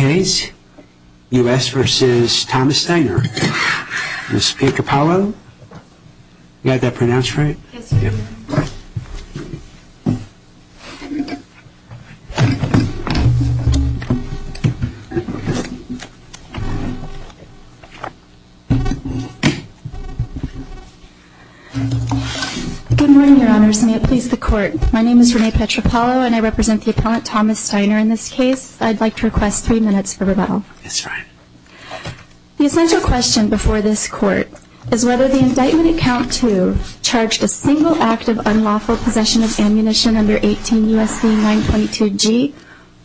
Ms. Petropalo, you had that pronounced right? Yes, Your Honor. Good morning, Your Honors, and may it please the Court. My name is Renee Petropalo, and I represent the appellant Thomas Steiner in this case. I'd like to request three minutes for rebuttal. Yes, Your Honor. The essential question before this Court is whether the indictment at Count 2 charged a single act of unlawful possession of ammunition under 18 U.S.C. 922G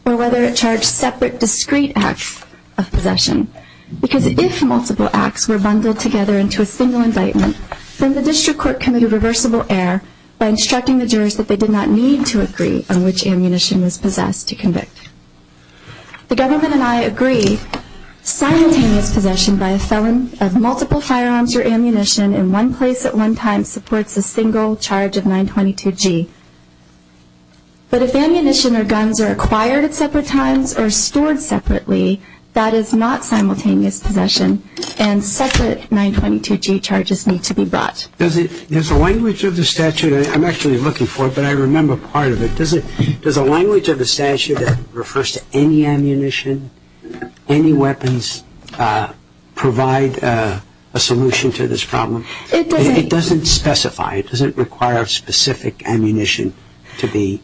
or whether it charged separate, discrete acts of possession. Because if multiple acts were bundled together into a single indictment, then the District Court committed reversible error by instructing the jurors that they did not need to agree on which ammunition was possessed to convict. The Government and I agree that simultaneous possession by a felon of multiple firearms or ammunition in one place at one time supports a single charge of 922G. But if ammunition or guns are acquired at separate times or stored separately, that is not simultaneous possession and separate 922G charges need to be brought. Does the language of the statute, I'm actually looking for it but I remember part of it, does the language of the statute that refers to any ammunition, any weapons, provide a solution to this problem? It doesn't. It doesn't specify. It doesn't require specific ammunition to be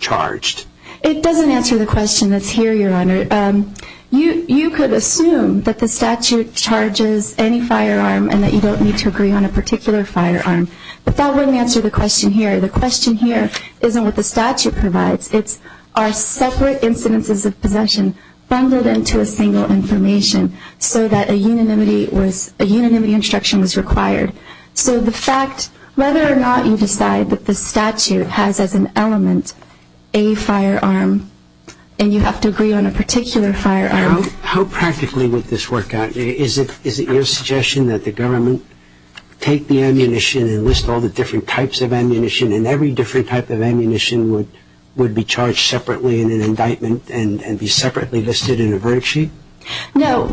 charged. It doesn't answer the question that's here, Your Honor. You could assume that the statute charges any firearm and that you don't need to agree on a particular firearm, but that wouldn't answer the question here. The question here isn't what the statute provides. It's are separate incidences of possession bundled into a single information so that a unanimity instruction was required? So the fact, whether or not you decide that the statute has as an element a firearm and you have to agree on a particular firearm. How practically would this work out? Is it your suggestion that the Government take the ammunition and list all the different types of ammunition and every different type of ammunition would be charged separately in an indictment and be separately listed in a verdict sheet? No.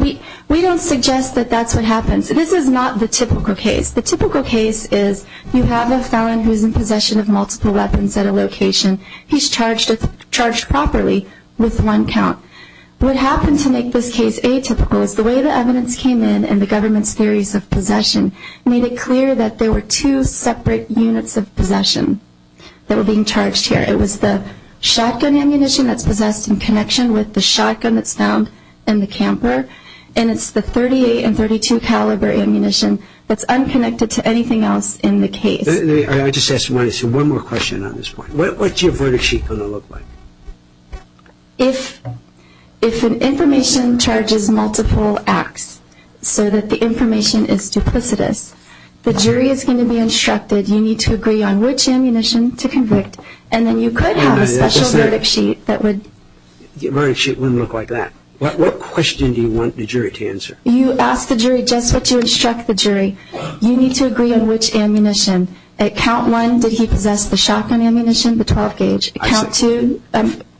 We don't suggest that that's what happens. This is not the typical case. The typical case is you have a felon who is in possession of multiple weapons at a location. He's charged properly with one count. What happened to make this case atypical is the way the evidence came in and the Government's theories of possession made it clear that there were two separate units of possession that were being charged here. It was the shotgun ammunition that's possessed in connection with the shotgun that's found in the camper and it's the .38 and .32 caliber ammunition that's unconnected to anything else in the case. I just want to ask one more question on this point. What's your verdict sheet going to look like? If an information charges multiple acts so that the information is duplicitous, the jury is going to be instructed you need to agree on which ammunition to convict and then you could have a special verdict sheet that would... The verdict sheet wouldn't look like that. What question do you want the jury to answer? You ask the jury just what you instruct the jury. You need to agree on which ammunition. At count one, did he possess the shotgun ammunition, the .12 gauge? At count two,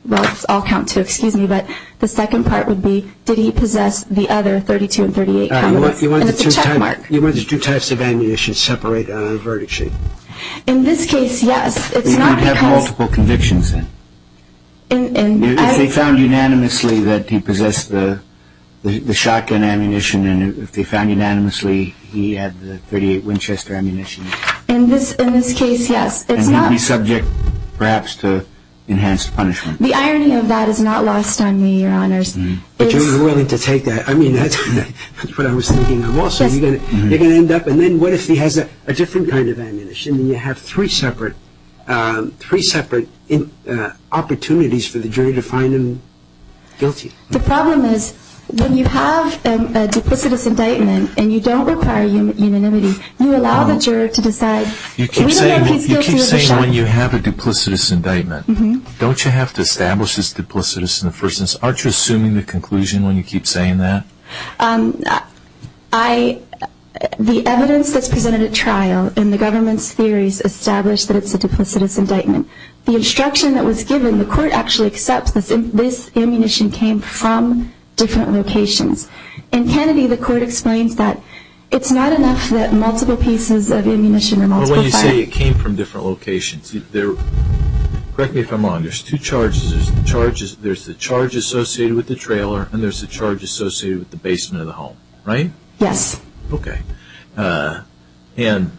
well, it's all count two, excuse me, but the second part would be did he possess the other .32 and .38 calibers? And it's a checkmark. You want the two types of ammunition separated on a verdict sheet. In this case, yes. It's not because... You'd have multiple convictions then. If they found unanimously that he possessed the shotgun ammunition and if they found unanimously he had the .38 Winchester ammunition. In this case, yes. And he'd be subject perhaps to enhanced punishment. The irony of that is not lost on me, Your Honors. But you're willing to take that? I mean, that's what I was thinking. You're going to end up and then what if he has a different kind of ammunition and you have three separate opportunities for the jury to find him guilty? The problem is when you have a duplicitous indictment and you don't require unanimity, you allow the jury to decide. You keep saying when you have a duplicitous indictment, don't you have to establish it's duplicitous in the first instance? Aren't you assuming the conclusion when you keep saying that? The evidence that's presented at trial in the government's theories establish that it's a duplicitous indictment. The instruction that was given, the court actually accepts that this ammunition came from different locations. In Kennedy, the court explains that it's not enough that multiple pieces of ammunition or multiple firearms... But when you say it came from different locations, correct me if I'm wrong, there's two charges. There's the charge associated with the trailer and there's the charge associated with the basement of the home, right? Yes. Okay. And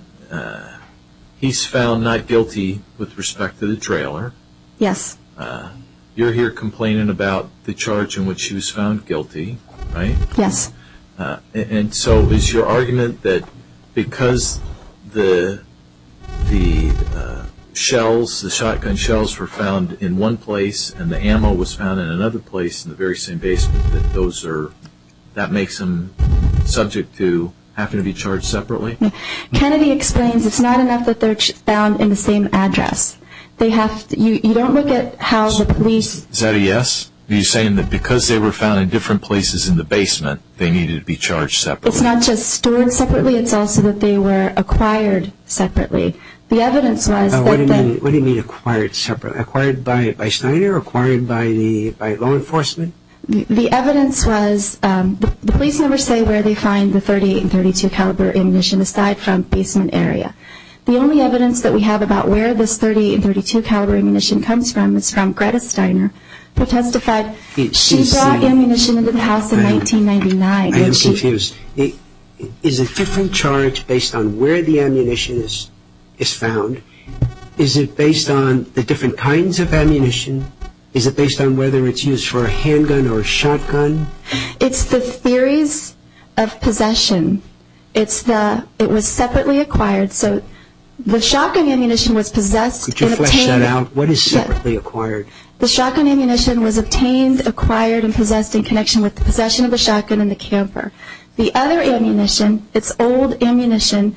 he's found not guilty with respect to the trailer. Yes. You're here complaining about the charge in which he was found guilty, right? Yes. And so is your argument that because the shells, the shotgun shells were found in one place and the ammo was found in another place in the very same basement, that that makes them subject to having to be charged separately? Kennedy explains it's not enough that they're found in the same address. You don't look at how the police... Is that a yes? Are you saying that because they were found in different places in the basement, they needed to be charged separately? It's not just stored separately. It's also that they were acquired separately. What do you mean acquired separately? Acquired by Steiner or acquired by law enforcement? The evidence was the police never say where they find the .38 and .32 caliber ammunition aside from the basement area. The only evidence that we have about where this .38 and .32 caliber ammunition comes from is from Greta Steiner who testified she brought ammunition into the house in 1999. I am confused. Is it different charge based on where the ammunition is found? Is it based on the different kinds of ammunition? Is it based on whether it's used for a handgun or a shotgun? It's the theories of possession. It was separately acquired. The shotgun ammunition was possessed. Could you flesh that out? The shotgun ammunition was obtained, acquired, and possessed in connection with the possession of the shotgun and the camper. The other ammunition, it's old ammunition,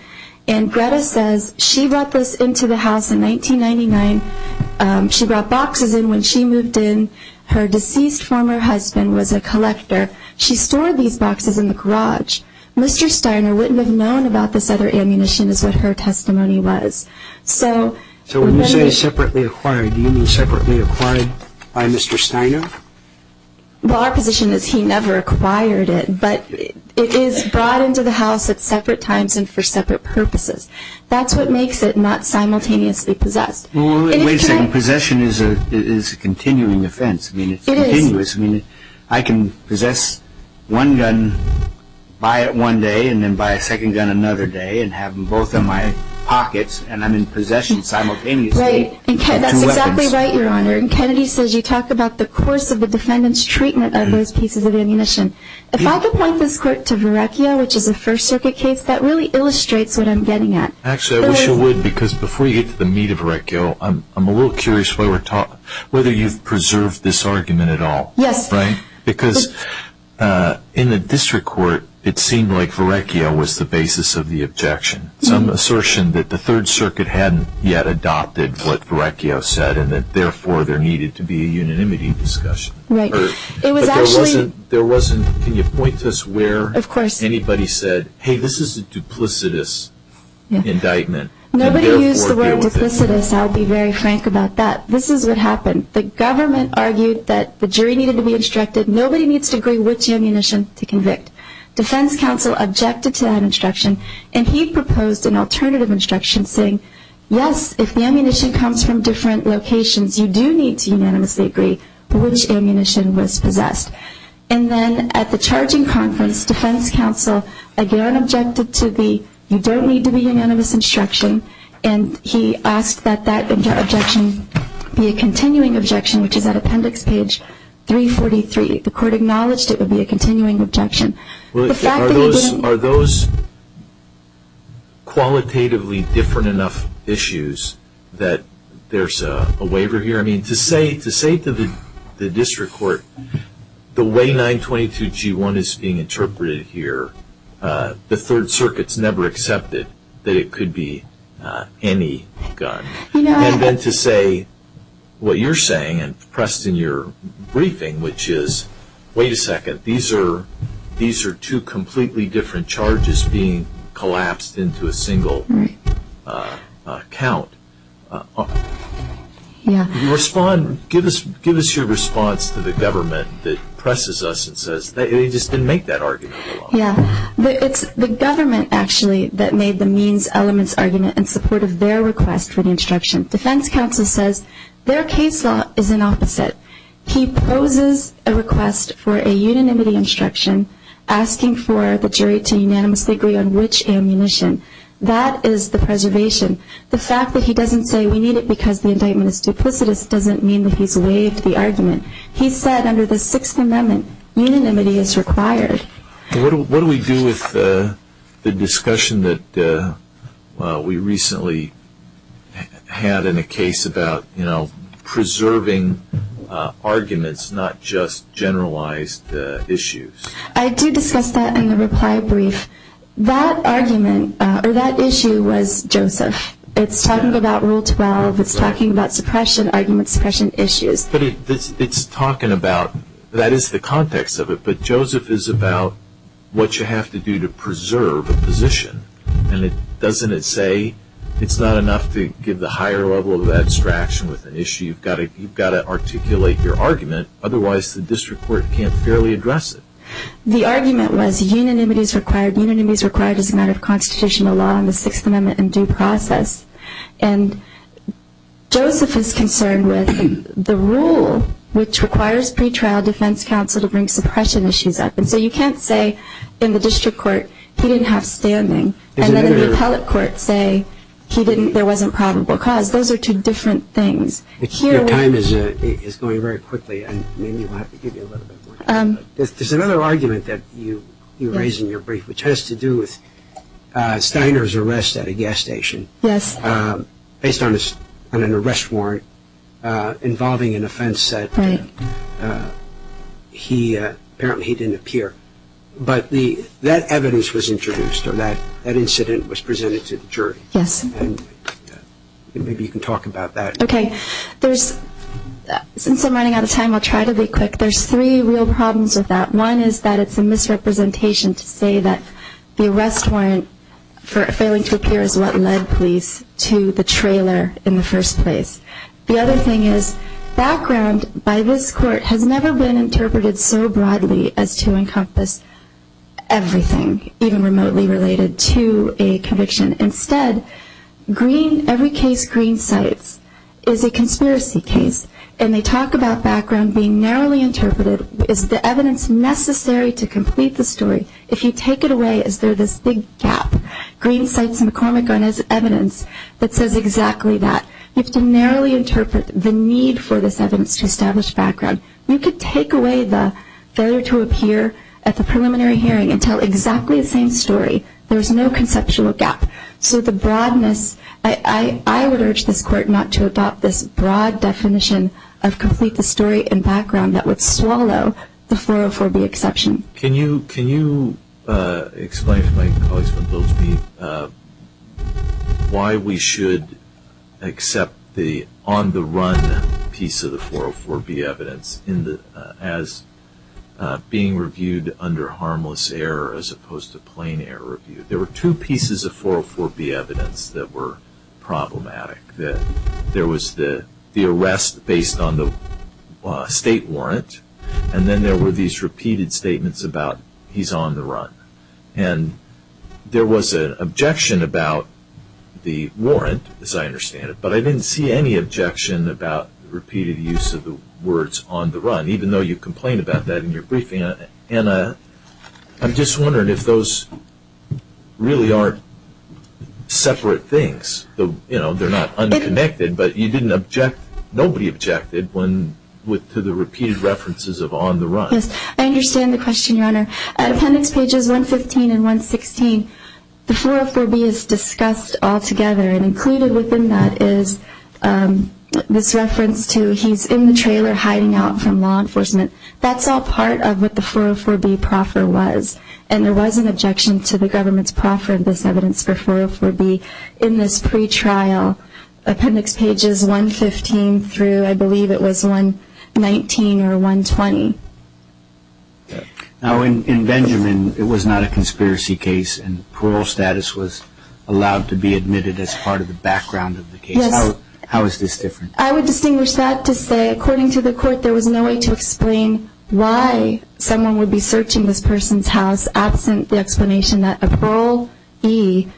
and Greta says she brought this into the house in 1999. She brought boxes in when she moved in. Her deceased former husband was a collector. She stored these boxes in the garage. Mr. Steiner wouldn't have known about this other ammunition is what her testimony was. So when you say separately acquired, do you mean separately acquired by Mr. Steiner? Well, our position is he never acquired it, but it is brought into the house at separate times and for separate purposes. That's what makes it not simultaneously possessed. Well, wait a second. Possession is a continuing offense. It is. I mean, it's continuous. I mean, I can possess one gun, buy it one day, and then buy a second gun another day and have them both in my pockets, and I'm in possession simultaneously. Right. That's exactly right, Your Honor. And Kennedy says you talk about the course of the defendant's treatment of those pieces of ammunition. If I could point this court to Verrecchio, which is a First Circuit case, that really illustrates what I'm getting at. Actually, I wish you would, because before you get to the meat of Verrecchio, I'm a little curious whether you've preserved this argument at all. Yes. Right? Because in the district court, it seemed like Verrecchio was the basis of the objection, some assertion that the Third Circuit hadn't yet adopted what Verrecchio said and that, therefore, there needed to be a unanimity discussion. Right. But there wasn't, can you point to us where anybody said, hey, this is a duplicitous indictment. Nobody used the word duplicitous. I'll be very frank about that. This is what happened. The government argued that the jury needed to be instructed. Nobody needs to agree which ammunition to convict. Defense counsel objected to that instruction, and he proposed an alternative instruction saying, yes, if the ammunition comes from different locations, you do need to unanimously agree which ammunition was possessed. And then at the charging conference, defense counsel again objected to the, you don't need to be unanimous instruction, and he asked that that objection be a continuing objection, which is at appendix page 343. The court acknowledged it would be a continuing objection. Are those qualitatively different enough issues that there's a waiver here? I mean, to say to the district court the way 922G1 is being interpreted here, the Third Circuit's never accepted that it could be any gun. And then to say what you're saying and pressed in your briefing, which is, wait a second, these are two completely different charges being collapsed into a single count. Can you respond? Give us your response to the government that presses us and says, they just didn't make that argument at all. Yeah, it's the government actually that made the means, elements, argument in support of their request for the instruction. Defense counsel says their case law is an opposite. He poses a request for a unanimity instruction, asking for the jury to unanimously agree on which ammunition. That is the preservation. The fact that he doesn't say we need it because the indictment is duplicitous doesn't mean that he's waived the argument. He said under the Sixth Amendment, unanimity is required. What do we do with the discussion that we recently had in a case about, you know, arguments, not just generalized issues? I did discuss that in the reply brief. That argument or that issue was Joseph. It's talking about Rule 12. It's talking about suppression, argument suppression issues. But it's talking about, that is the context of it, but Joseph is about what you have to do to preserve a position. And doesn't it say it's not enough to give the higher level of abstraction with an issue. You've got to articulate your argument. Otherwise, the district court can't fairly address it. The argument was unanimity is required. Unanimity is required as a matter of constitutional law in the Sixth Amendment and due process. And Joseph is concerned with the rule, which requires pretrial defense counsel to bring suppression issues up. And so you can't say in the district court he didn't have standing. And then the appellate court say he didn't, there wasn't probable cause. Those are two different things. Your time is going very quickly and maybe you'll have to give me a little bit more time. There's another argument that you raise in your brief, which has to do with Steiner's arrest at a gas station. Yes. Based on an arrest warrant involving an offense that he, apparently he didn't appear. But that evidence was introduced or that incident was presented to the jury. Yes. And maybe you can talk about that. Okay. There's, since I'm running out of time, I'll try to be quick. There's three real problems with that. One is that it's a misrepresentation to say that the arrest warrant for failing to appear is what led police to the trailer in the first place. The other thing is background by this court has never been interpreted so broadly as to encompass everything, even remotely related to a conviction. Instead, every case Green Cites is a conspiracy case and they talk about background being narrowly interpreted. Is the evidence necessary to complete the story? If you take it away, is there this big gap? Green Cites and McCormick are evidence that says exactly that. You have to narrowly interpret the need for this evidence to establish background. You could take away the failure to appear at the preliminary hearing and tell exactly the same story. There's no conceptual gap. So the broadness, I would urge this court not to adopt this broad definition of complete the story and background that would swallow the 404B exception. Can you explain to my colleagues why we should accept the on-the-run piece of the 404B evidence as being reviewed under harmless error as opposed to plain error review? There were two pieces of 404B evidence that were problematic. There was the arrest based on the state warrant and then there were these repeated statements about he's on the run. And there was an objection about the warrant, as I understand it, but I didn't see any objection about repeated use of the words on the run, even though you complained about that in your briefing. And I'm just wondering if those really aren't separate things. They're not unconnected, but nobody objected to the repeated references of on the run. Yes, I understand the question, Your Honor. At appendix pages 115 and 116, the 404B is discussed altogether and included within that is this reference to he's in the trailer hiding out from law enforcement. That's all part of what the 404B proffer was. And there was an objection to the government's proffer of this evidence for 404B in this pretrial, appendix pages 115 through I believe it was 119 or 120. Now, in Benjamin, it was not a conspiracy case and parole status was allowed to be admitted as part of the background of the case. How is this different? I would distinguish that to say, according to the court, there was no way to explain why someone would be searching this person's house absent the explanation that a parolee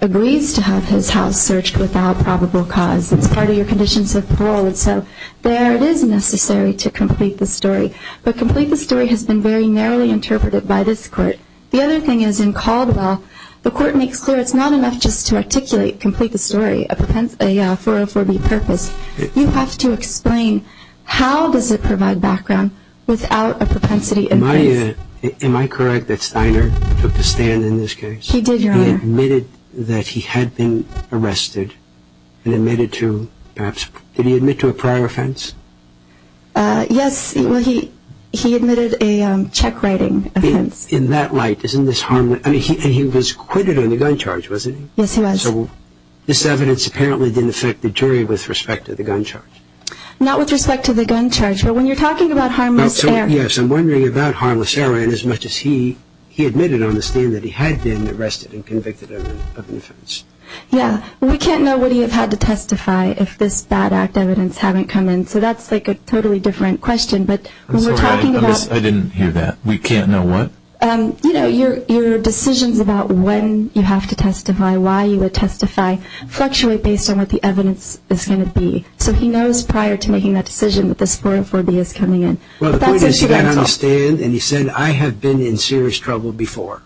agrees to have his house searched without probable cause. It's part of your conditions of parole. And so there it is necessary to complete the story. But complete the story has been very narrowly interpreted by this court. The other thing is in Caldwell, the court makes clear it's not enough just to articulate, complete the story, a 404B purpose. You have to explain how does it provide background without a propensity in place. Am I correct that Steiner took the stand in this case? He did, Your Honor. He admitted that he had been arrested and admitted to perhaps, did he admit to a prior offense? Yes, he admitted a check writing offense. In that light, isn't this harmless? I mean, he was acquitted on the gun charge, wasn't he? Yes, he was. So this evidence apparently didn't affect the jury with respect to the gun charge. Not with respect to the gun charge, but when you're talking about harmless error. Yes, I'm wondering about harmless error and as much as he admitted on the stand that he had been arrested and convicted of an offense. Yeah. We can't know what he would have had to testify if this bad act evidence hadn't come in. So that's like a totally different question. I'm sorry, I didn't hear that. We can't know what? You know, your decisions about when you have to testify, why you would testify, fluctuate based on what the evidence is going to be. So he knows prior to making that decision that the spore of phobia is coming in. Well, the point is he got on the stand and he said, I have been in serious trouble before.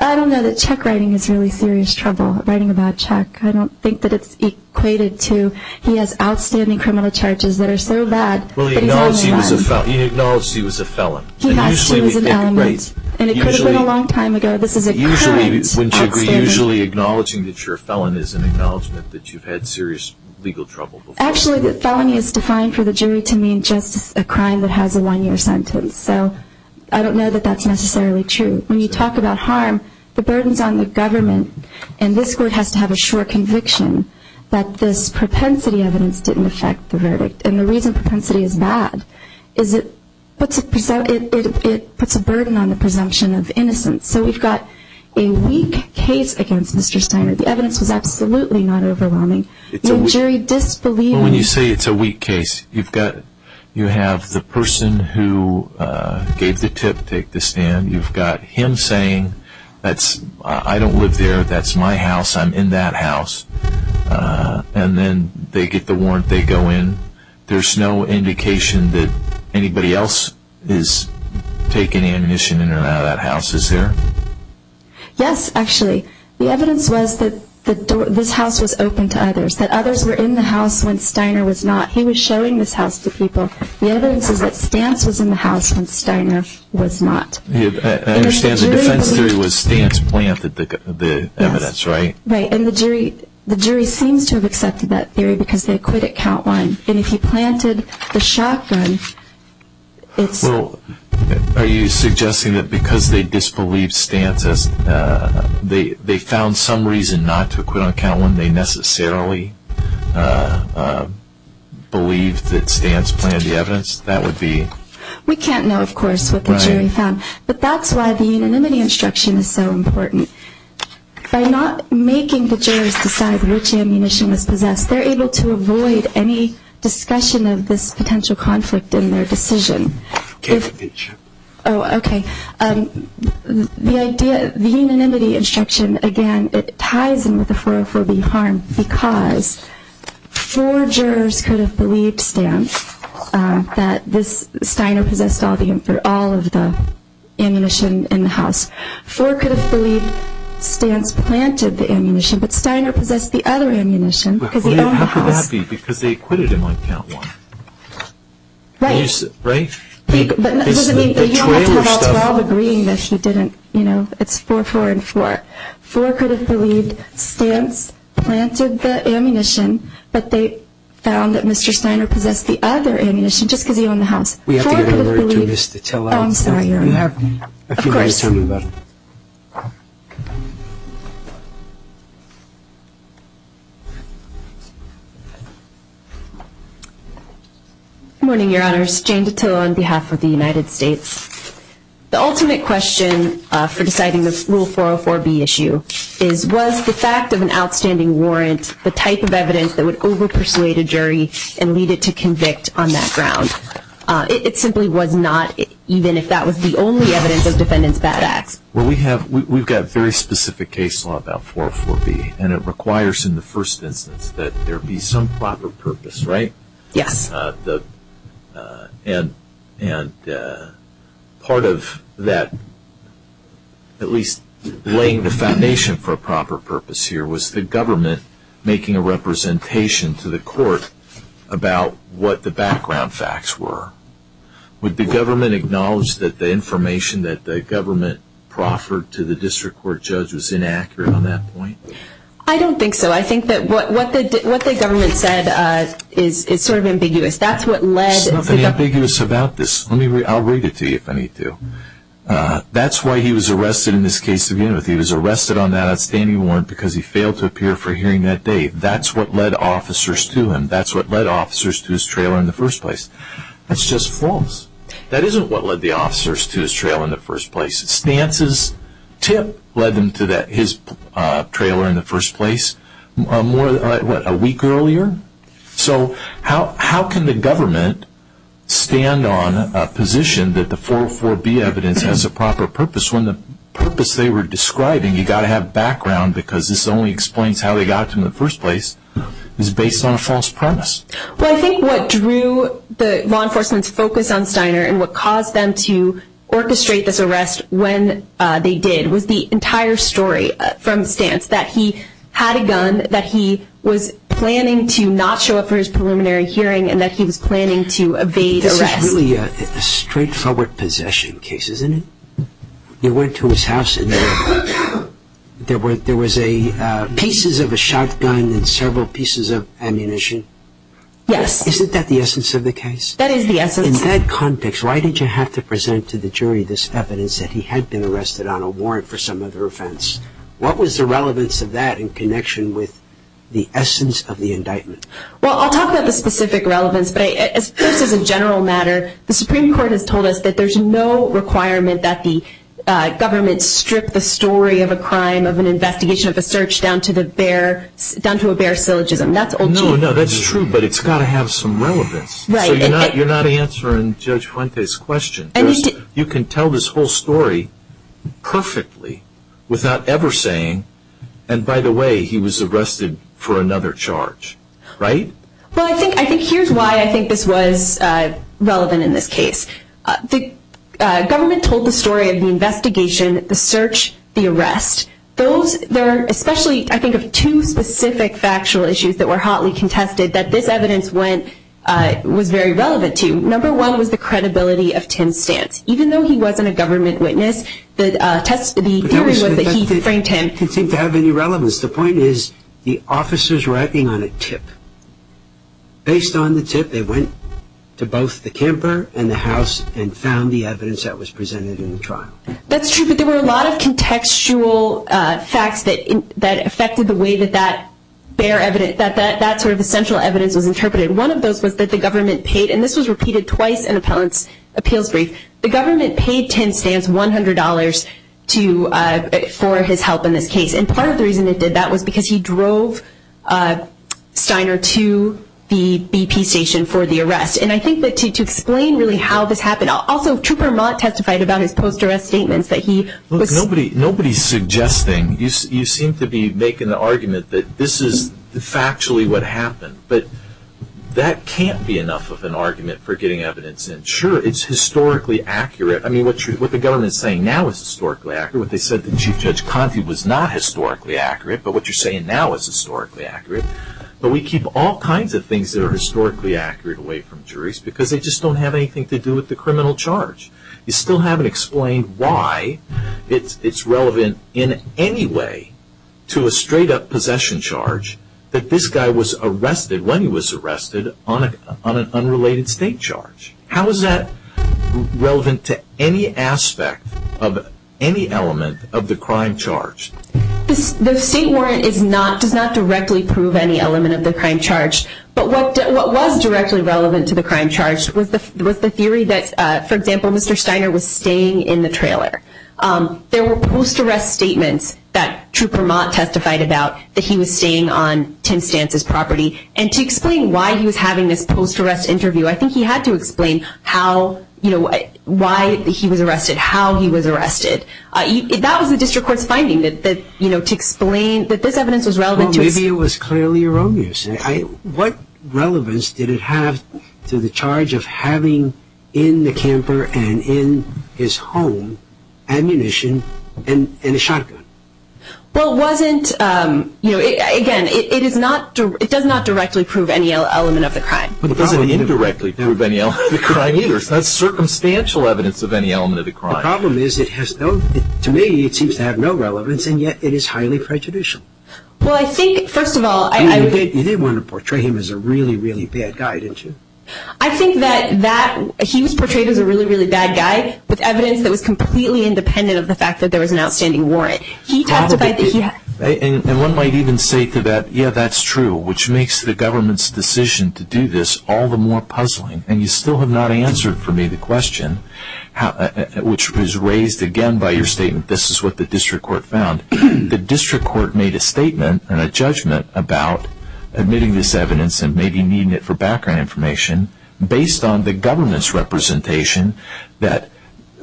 I don't know that check writing is really serious trouble, writing a bad check. I don't think that it's equated to, he has outstanding criminal charges that are so bad. Well, he acknowledged he was a felon. He has to. And it could have been a long time ago. This is a crime. Usually acknowledging that you're a felon is an acknowledgement that you've had serious legal trouble before. Actually, the felony is defined for the jury to mean just a crime that has a one-year sentence. So I don't know that that's necessarily true. When you talk about harm, the burden is on the government, and this court has to have a sure conviction that this propensity evidence didn't affect the verdict. And the reason propensity is bad is it puts a burden on the presumption of innocence. So we've got a weak case against Mr. Steiner. The evidence was absolutely not overwhelming. The jury disbelieved. When you say it's a weak case, you have the person who gave the tip take the stand. You've got him saying, I don't live there. That's my house. I'm in that house. And then they get the warrant. They go in. There's no indication that anybody else is taking ammunition in or out of that house, is there? Yes, actually. The evidence was that this house was open to others. That others were in the house when Steiner was not. He was showing this house to people. The evidence is that Stantz was in the house when Steiner was not. I understand the defense theory was Stantz planted the evidence, right? Right. And the jury seems to have accepted that theory because they acquitted count one. And if he planted the shotgun, it's... Well, are you suggesting that because they disbelieved Stantz, they found some reason not to acquit on count one, they necessarily believed that Stantz planted the evidence? That would be... We can't know, of course, what the jury found. But that's why the unanimity instruction is so important. By not making the jurors decide which ammunition was possessed, they're able to avoid any discussion of this potential conflict in their decision. Okay. Oh, okay. The idea, the unanimity instruction, again, it ties in with the 404B harm because four jurors could have believed Stantz, that this Steiner possessed all of the ammunition in the house. Four could have believed Stantz planted the ammunition, but Steiner possessed the other ammunition because he owned the house. How could that be? Because they acquitted him on count one. Right. Right? But you have to have all 12 agreeing that she didn't, you know, it's 4-4-4. Four could have believed Stantz planted the ammunition, but they found that Mr. Steiner possessed the other ammunition just because he owned the house. We have to get a word to Ms. Titella. Oh, I'm sorry. We have a few minutes remaining. Good morning, Your Honors. Jane Titella on behalf of the United States. The ultimate question for deciding this Rule 404B issue is, was the fact of an outstanding warrant the type of evidence that would over-persuade a jury and lead it to convict on that ground? It simply was not, even if that was the only evidence of defendant's bad acts. Well, we have, we've got very specific case law about 404B, and it requires in the first instance that there be some proper purpose, right? Yes. And part of that, at least laying the foundation for a proper purpose here, was the government making a representation to the court about what the background facts were. Would the government acknowledge that the information that the government proffered to the district court judge was inaccurate on that point? I don't think so. I think that what the government said is sort of ambiguous. There's nothing ambiguous about this. I'll read it to you if I need to. That's why he was arrested in this case. He was arrested on that outstanding warrant because he failed to appear for hearing that day. That's what led officers to him. That's what led officers to his trailer in the first place. That's just false. That isn't what led the officers to his trailer in the first place. Stance's tip led them to his trailer in the first place a week earlier. So how can the government stand on a position that the 404B evidence has a proper purpose when the purpose they were describing, you've got to have background because this only explains how they got to him in the first place, is based on a false premise. Well, I think what drew the law enforcement's focus on Steiner and what caused them to orchestrate this arrest when they did was the entire story from Stance that he had a gun, that he was planning to not show up for his preliminary hearing, and that he was planning to evade arrest. It's really a straightforward possession case, isn't it? You went to his house and there was pieces of a shotgun and several pieces of ammunition. Yes. Isn't that the essence of the case? That is the essence. In that context, why did you have to present to the jury this evidence that he had been arrested on a warrant for some other offense? What was the relevance of that in connection with the essence of the indictment? Well, I'll talk about the specific relevance, but this is a general matter. The Supreme Court has told us that there's no requirement that the government strip the story of a crime, of an investigation, of a search down to a bare syllogism. No, no, that's true, but it's got to have some relevance. So you're not answering Judge Fuentes' question. You can tell this whole story perfectly without ever saying, and by the way, he was arrested for another charge, right? Well, I think here's why I think this was relevant in this case. The government told the story of the investigation, the search, the arrest. There are especially, I think, two specific factual issues that were hotly contested that this evidence was very relevant to. Number one was the credibility of Tim Stantz. Even though he wasn't a government witness, the theory was that he framed Tim. It didn't seem to have any relevance. The point is the officers were acting on a tip. Based on the tip, they went to both the camper and the house and found the evidence that was presented in the trial. That's true, but there were a lot of contextual facts that affected the way that that bare evidence, that sort of essential evidence was interpreted. One of those was that the government paid, and this was repeated twice in an appeals brief, the government paid Tim Stantz $100 for his help in this case. Part of the reason it did that was because he drove Steiner to the BP station for the arrest. I think that to explain really how this happened, also Trooper Mott testified about his post-arrest statements that he was Nobody's suggesting. You seem to be making the argument that this is factually what happened, but that can't be enough of an argument for getting evidence in. Sure, it's historically accurate. What the government is saying now is historically accurate. What they said to Chief Judge Conte was not historically accurate, but what you're saying now is historically accurate. But we keep all kinds of things that are historically accurate away from juries because they just don't have anything to do with the criminal charge. You still haven't explained why it's relevant in any way to a straight-up possession charge that this guy was arrested when he was arrested on an unrelated state charge. How is that relevant to any aspect of any element of the crime charge? The state warrant does not directly prove any element of the crime charge, but what was directly relevant to the crime charge was the theory that, for example, Mr. Steiner was staying in the trailer. There were post-arrest statements that Trooper Mott testified about that he was staying on Tim Stantz's property, and to explain why he was having this post-arrest interview, I think he had to explain why he was arrested, how he was arrested. That was the district court's finding, to explain that this evidence was relevant. Maybe it was clearly erroneous. What relevance did it have to the charge of having in the camper and in his home ammunition and a shotgun? Again, it does not directly prove any element of the crime. It doesn't indirectly prove any element of the crime either. It's not circumstantial evidence of any element of the crime. The problem is, to me, it seems to have no relevance, and yet it is highly prejudicial. You did want to portray him as a really, really bad guy, didn't you? I think that he was portrayed as a really, really bad guy with evidence that was completely independent of the fact that there was an outstanding warrant. One might even say to that, yeah, that's true, which makes the government's decision to do this all the more puzzling. You still have not answered for me the question, which was raised again by your statement, this is what the district court found. The district court made a statement and a judgment about admitting this evidence and maybe needing it for background information based on the government's representation that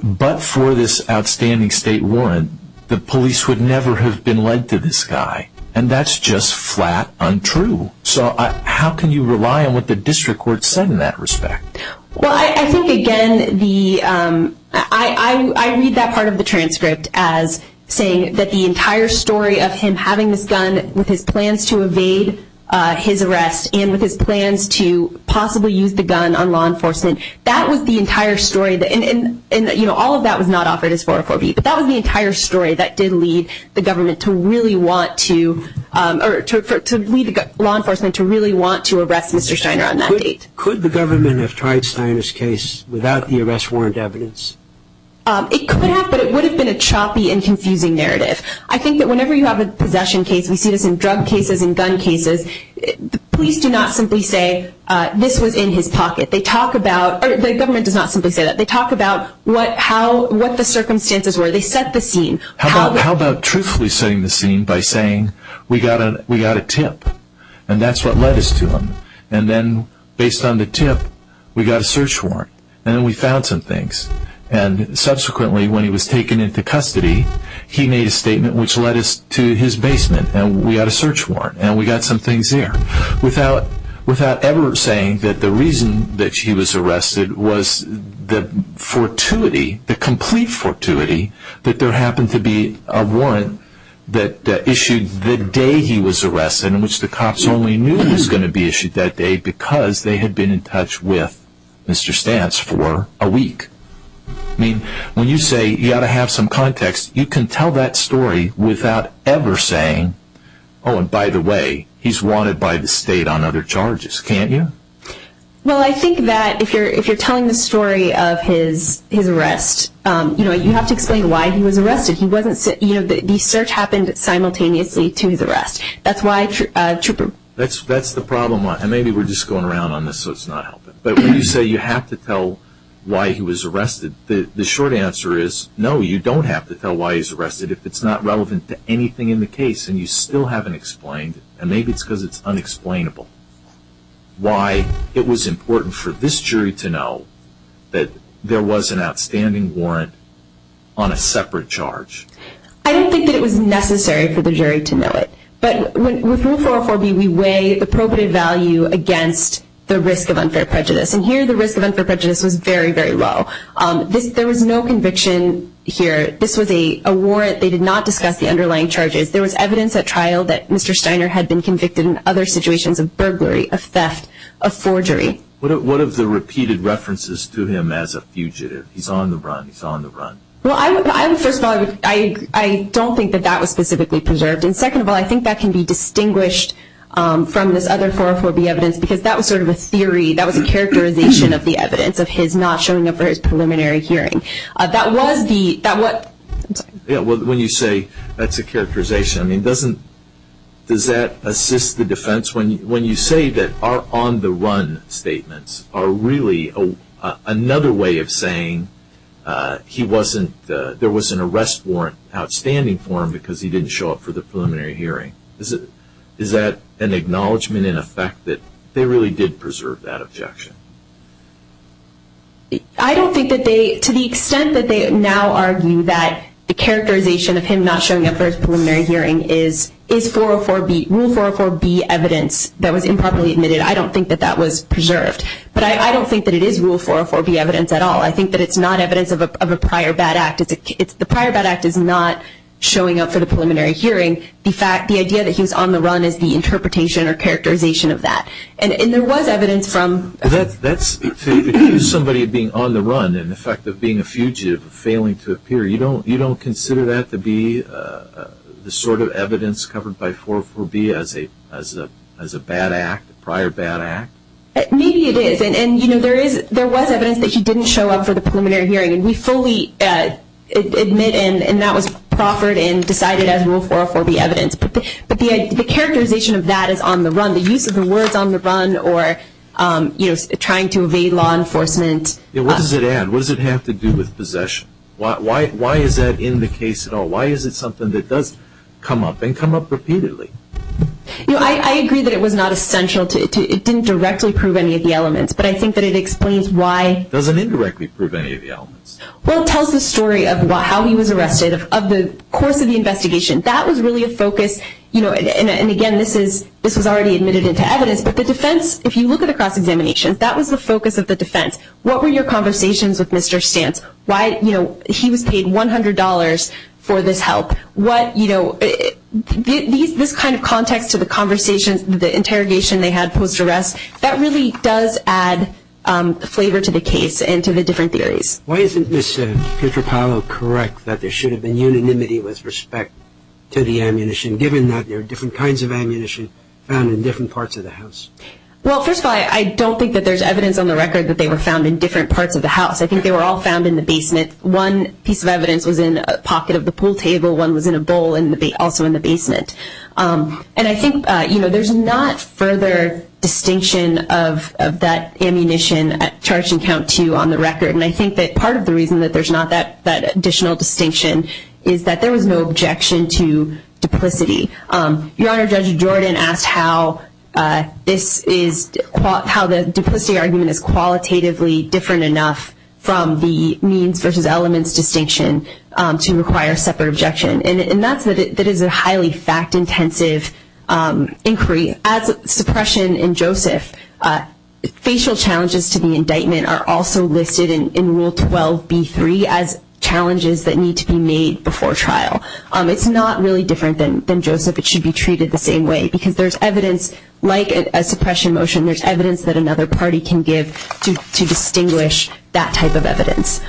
but for this outstanding state warrant, the police would never have been led to this guy. That's just flat untrue. How can you rely on what the district court said in that respect? I read that part of the transcript as saying that the entire story of him having this gun with his plans to evade his arrest and with his plans to possibly use the gun on law enforcement, that was the entire story. All of that was not offered as 404B, but that was the entire story that did lead the government to really want to arrest Mr. Steiner on that date. Could the government have tried Steiner's case without the arrest warrant evidence? It could have, but it would have been a choppy and confusing narrative. I think that whenever you have a possession case, we see this in drug cases and gun cases, the police do not simply say this was in his pocket. The government does not simply say that. They talk about what the circumstances were. They set the scene. How about truthfully setting the scene by saying we got a tip and that's what led us to him and then based on the tip, we got a search warrant and then we found some things and subsequently when he was taken into custody, he made a statement which led us to his basement and we got a search warrant and we got some things there. Without ever saying that the reason that he was arrested was the fortuity, the complete fortuity that there happened to be a warrant that issued the day he was arrested in which the cops only knew he was going to be issued that day because they had been in touch with Mr. Stantz for a week. When you say you have to have some context, you can tell that story without ever saying, oh, and by the way, he's wanted by the state on other charges. Can't you? Well, I think that if you're telling the story of his arrest, you have to explain why he was arrested. The search happened simultaneously to his arrest. That's the problem. Maybe we're just going around on this so it's not helping. But when you say you have to tell why he was arrested, the short answer is no, you don't have to tell why he's arrested if it's not relevant to anything in the case and you still haven't explained, and maybe it's because it's unexplainable, why it was important for this jury to know that there was an outstanding warrant on a separate charge. I don't think that it was necessary for the jury to know it. But with Rule 404B, we weigh the appropriate value against the risk of unfair prejudice, and here the risk of unfair prejudice was very, very low. There was no conviction here. This was a warrant. They did not discuss the underlying charges. There was evidence at trial that Mr. Steiner had been convicted in other situations of burglary, of theft, of forgery. What of the repeated references to him as a fugitive? He's on the run. He's on the run. Well, first of all, I don't think that that was specifically preserved, and second of all, I think that can be distinguished from this other 404B evidence because that was sort of a theory. That was a characterization of the evidence of his not showing up for his preliminary hearing. When you say that's a characterization, does that assist the defense? When you say that our on-the-run statements are really another way of saying there was an arrest warrant outstanding for him because he didn't show up for the preliminary hearing, is that an acknowledgment in effect that they really did preserve that objection? I don't think that they, to the extent that they now argue that the characterization of him not showing up for his preliminary hearing is rule 404B evidence that was improperly admitted, I don't think that that was preserved. But I don't think that it is rule 404B evidence at all. I think that it's not evidence of a prior bad act. The prior bad act is not showing up for the preliminary hearing. The idea that he was on the run is the interpretation or characterization of that. And there was evidence from- That's somebody being on the run in effect of being a fugitive, failing to appear. You don't consider that to be the sort of evidence covered by 404B as a bad act, prior bad act? Maybe it is. And, you know, there was evidence that he didn't show up for the preliminary hearing, and we fully admit and that was proffered and decided as rule 404B evidence. But the characterization of that is on the run. The use of the words on the run or, you know, trying to evade law enforcement. What does it add? What does it have to do with possession? Why is that in the case at all? Why is it something that does come up and come up repeatedly? You know, I agree that it was not essential. It didn't directly prove any of the elements, but I think that it explains why- It doesn't indirectly prove any of the elements. Well, it tells the story of how he was arrested, of the course of the investigation. That was really a focus. You know, and again, this was already admitted into evidence, but the defense, if you look at the cross-examination, that was the focus of the defense. What were your conversations with Mr. Stantz? Why, you know, he was paid $100 for this help. What, you know, this kind of context to the conversations, the interrogation they had post-arrest, that really does add flavor to the case and to the different theories. Why isn't Ms. Pietropalo correct that there should have been unanimity with respect to the ammunition, given that there are different kinds of ammunition found in different parts of the house? Well, first of all, I don't think that there's evidence on the record that they were found in different parts of the house. I think they were all found in the basement. One piece of evidence was in a pocket of the pool table. One was in a bowl, also in the basement. And I think, you know, there's not further distinction of that ammunition at charge and count two on the record, and I think that part of the reason that there's not that additional distinction is that there was no objection to duplicity. Your Honor, Judge Jordan asked how this is, how the duplicity argument is qualitatively different enough from the means versus elements distinction to require separate objection. And that is a highly fact-intensive inquiry. As suppression in Joseph, facial challenges to the indictment are also listed in Rule 12b-3 as challenges that need to be made before trial. It's not really different than Joseph. It should be treated the same way because there's evidence, like a suppression motion, there's evidence that another party can give to distinguish that type of evidence.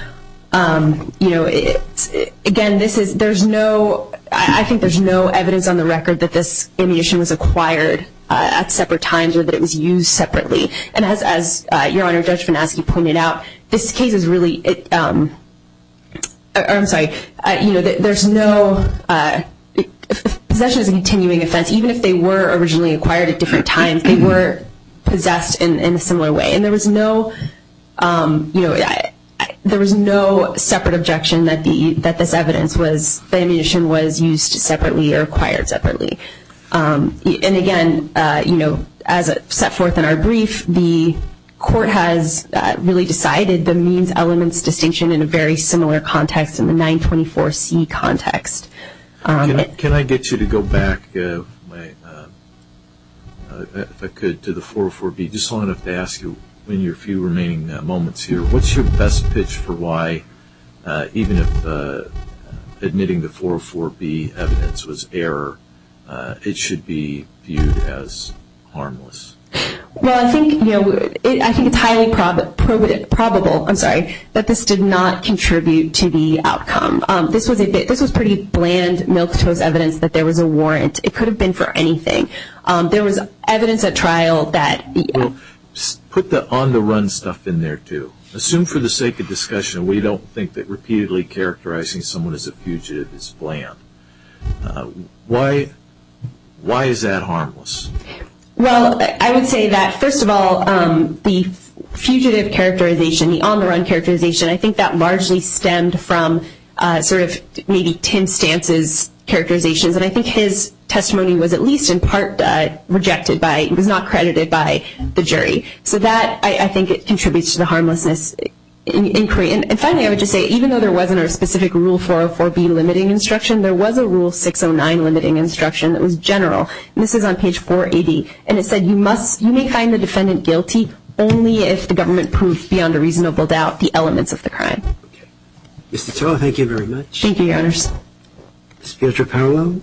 You know, again, this is, there's no, I think there's no evidence on the record that this ammunition was acquired at separate times or that it was used separately. And as Your Honor, Judge Van Aske pointed out, this case is really, I'm sorry, you know, there's no, possession is a continuing offense. Even if they were originally acquired at different times, they were possessed in a similar way. And there was no, you know, there was no separate objection that this evidence was, the ammunition was used separately or acquired separately. And again, you know, as set forth in our brief, the court has really decided the means-elements distinction in a very similar context, in the 924C context. Can I get you to go back, if I could, to the 404B? Just wanted to ask you in your few remaining moments here, what's your best pitch for why, even if admitting the 404B evidence was error, it should be viewed as harmless? Well, I think, you know, I think it's highly probable, I'm sorry, that this did not contribute to the outcome. This was pretty bland, milquetoast evidence that there was a warrant. It could have been for anything. There was evidence at trial that, you know. Put the on-the-run stuff in there, too. Assume for the sake of discussion, we don't think that repeatedly characterizing someone as a fugitive is bland. Why is that harmless? Well, I would say that, first of all, the fugitive characterization, the on-the-run characterization, I think that largely stemmed from sort of maybe Tim Stantz's characterizations. And I think his testimony was at least in part rejected by, was not credited by the jury. So that, I think, contributes to the harmlessness inquiry. And finally, I would just say, even though there wasn't a specific Rule 404B limiting instruction, there was a Rule 609 limiting instruction that was general. And this is on page 480. And it said, you must, you may find the defendant guilty only if the government proves beyond a reasonable doubt the elements of the crime. Okay. Ms. Tuttle, thank you very much. Thank you, Your Honors. Ms. Pietropoulou.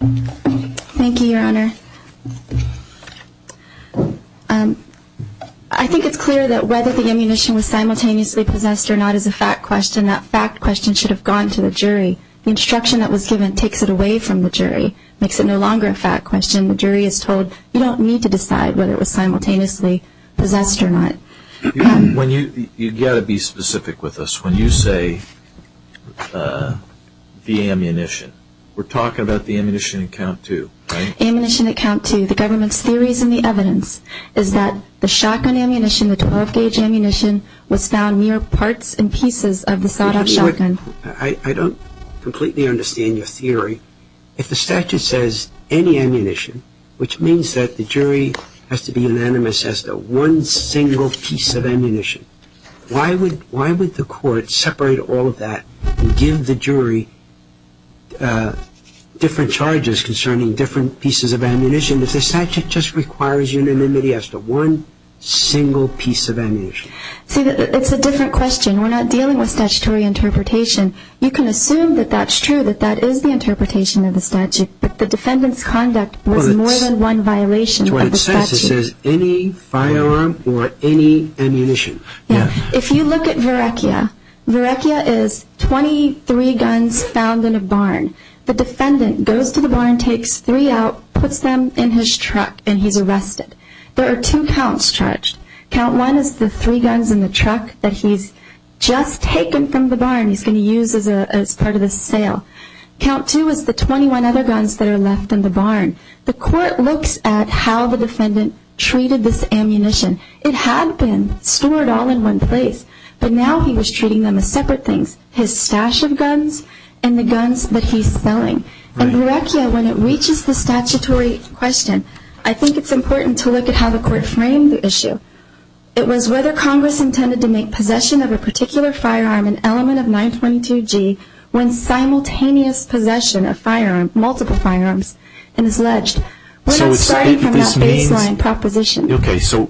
Thank you, Your Honor. I think it's clear that whether the ammunition was simultaneously possessed or not is a fact question. That fact question should have gone to the jury. The instruction that was given takes it away from the jury, makes it no longer a fact question. The jury is told you don't need to decide whether it was simultaneously possessed or not. You've got to be specific with us. When you say the ammunition, we're talking about the ammunition at count two, right? Ammunition at count two. The government's theories and the evidence is that the shotgun ammunition, the 12-gauge ammunition, was found mere parts and pieces of the Sadov shotgun. I don't completely understand your theory. If the statute says any ammunition, which means that the jury has to be unanimous as to one single piece of ammunition, why would the court separate all of that and give the jury different charges concerning different pieces of ammunition if the statute just requires unanimity as to one single piece of ammunition? See, it's a different question. We're not dealing with statutory interpretation. You can assume that that's true, that that is the interpretation of the statute, but the defendant's conduct was more than one violation of the statute. That's what it says. It says any firearm or any ammunition. If you look at Varechia, Varechia is 23 guns found in a barn. The defendant goes to the barn, takes three out, puts them in his truck, and he's arrested. There are two counts charged. Count one is the three guns in the truck that he's just taken from the barn, he's going to use as part of his sale. Count two is the 21 other guns that are left in the barn. The court looks at how the defendant treated this ammunition. It had been stored all in one place, but now he was treating them as separate things, his stash of guns and the guns that he's selling. And Varechia, when it reaches the statutory question, I think it's important to look at how the court framed the issue. It was whether Congress intended to make possession of a particular firearm an element of 922G when simultaneous possession of multiple firearms is alleged. We're not starting from that baseline proposition. Okay, so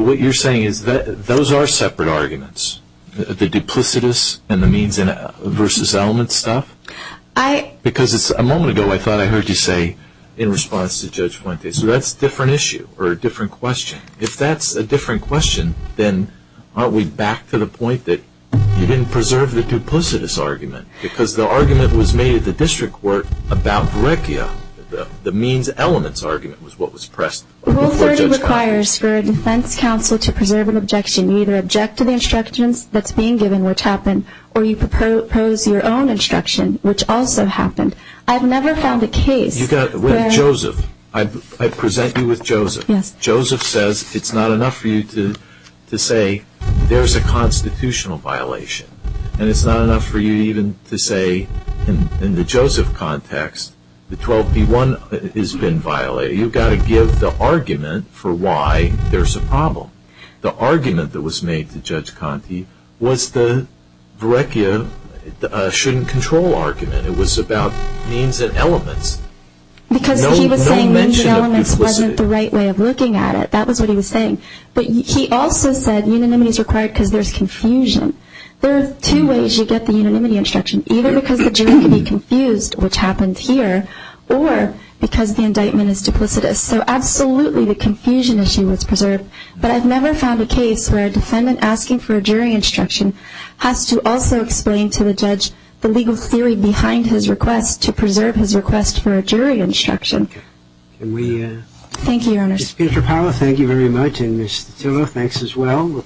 what you're saying is that those are separate arguments, the duplicitous and the means versus element stuff? Because a moment ago I thought I heard you say in response to Judge Fuente, so that's a different issue or a different question. If that's a different question, then aren't we back to the point that you didn't preserve the duplicitous argument because the argument was made at the district court about Varechia. The means-elements argument was what was pressed. Rule 30 requires for a defense counsel to preserve an objection. You either object to the instructions that's being given, which happened, or you propose your own instruction, which also happened. Joseph, I present you with Joseph. Joseph says it's not enough for you to say there's a constitutional violation and it's not enough for you even to say in the Joseph context the 12B1 has been violated. You've got to give the argument for why there's a problem. The argument that was made to Judge Conte was the Varechia shouldn't control argument. It was about means and elements. Because he was saying means and elements wasn't the right way of looking at it. That was what he was saying. But he also said unanimity is required because there's confusion. There are two ways you get the unanimity instruction, either because the jury can be confused, which happened here, or because the indictment is duplicitous. So absolutely the confusion issue was preserved, but I've never found a case where a defendant asking for a jury instruction has to also explain to the judge the legal theory behind his request to preserve his request for a jury instruction. Can we? Thank you, Your Honor. Ms. Pietropaola, thank you very much. And Ms. Titillo, thanks as well.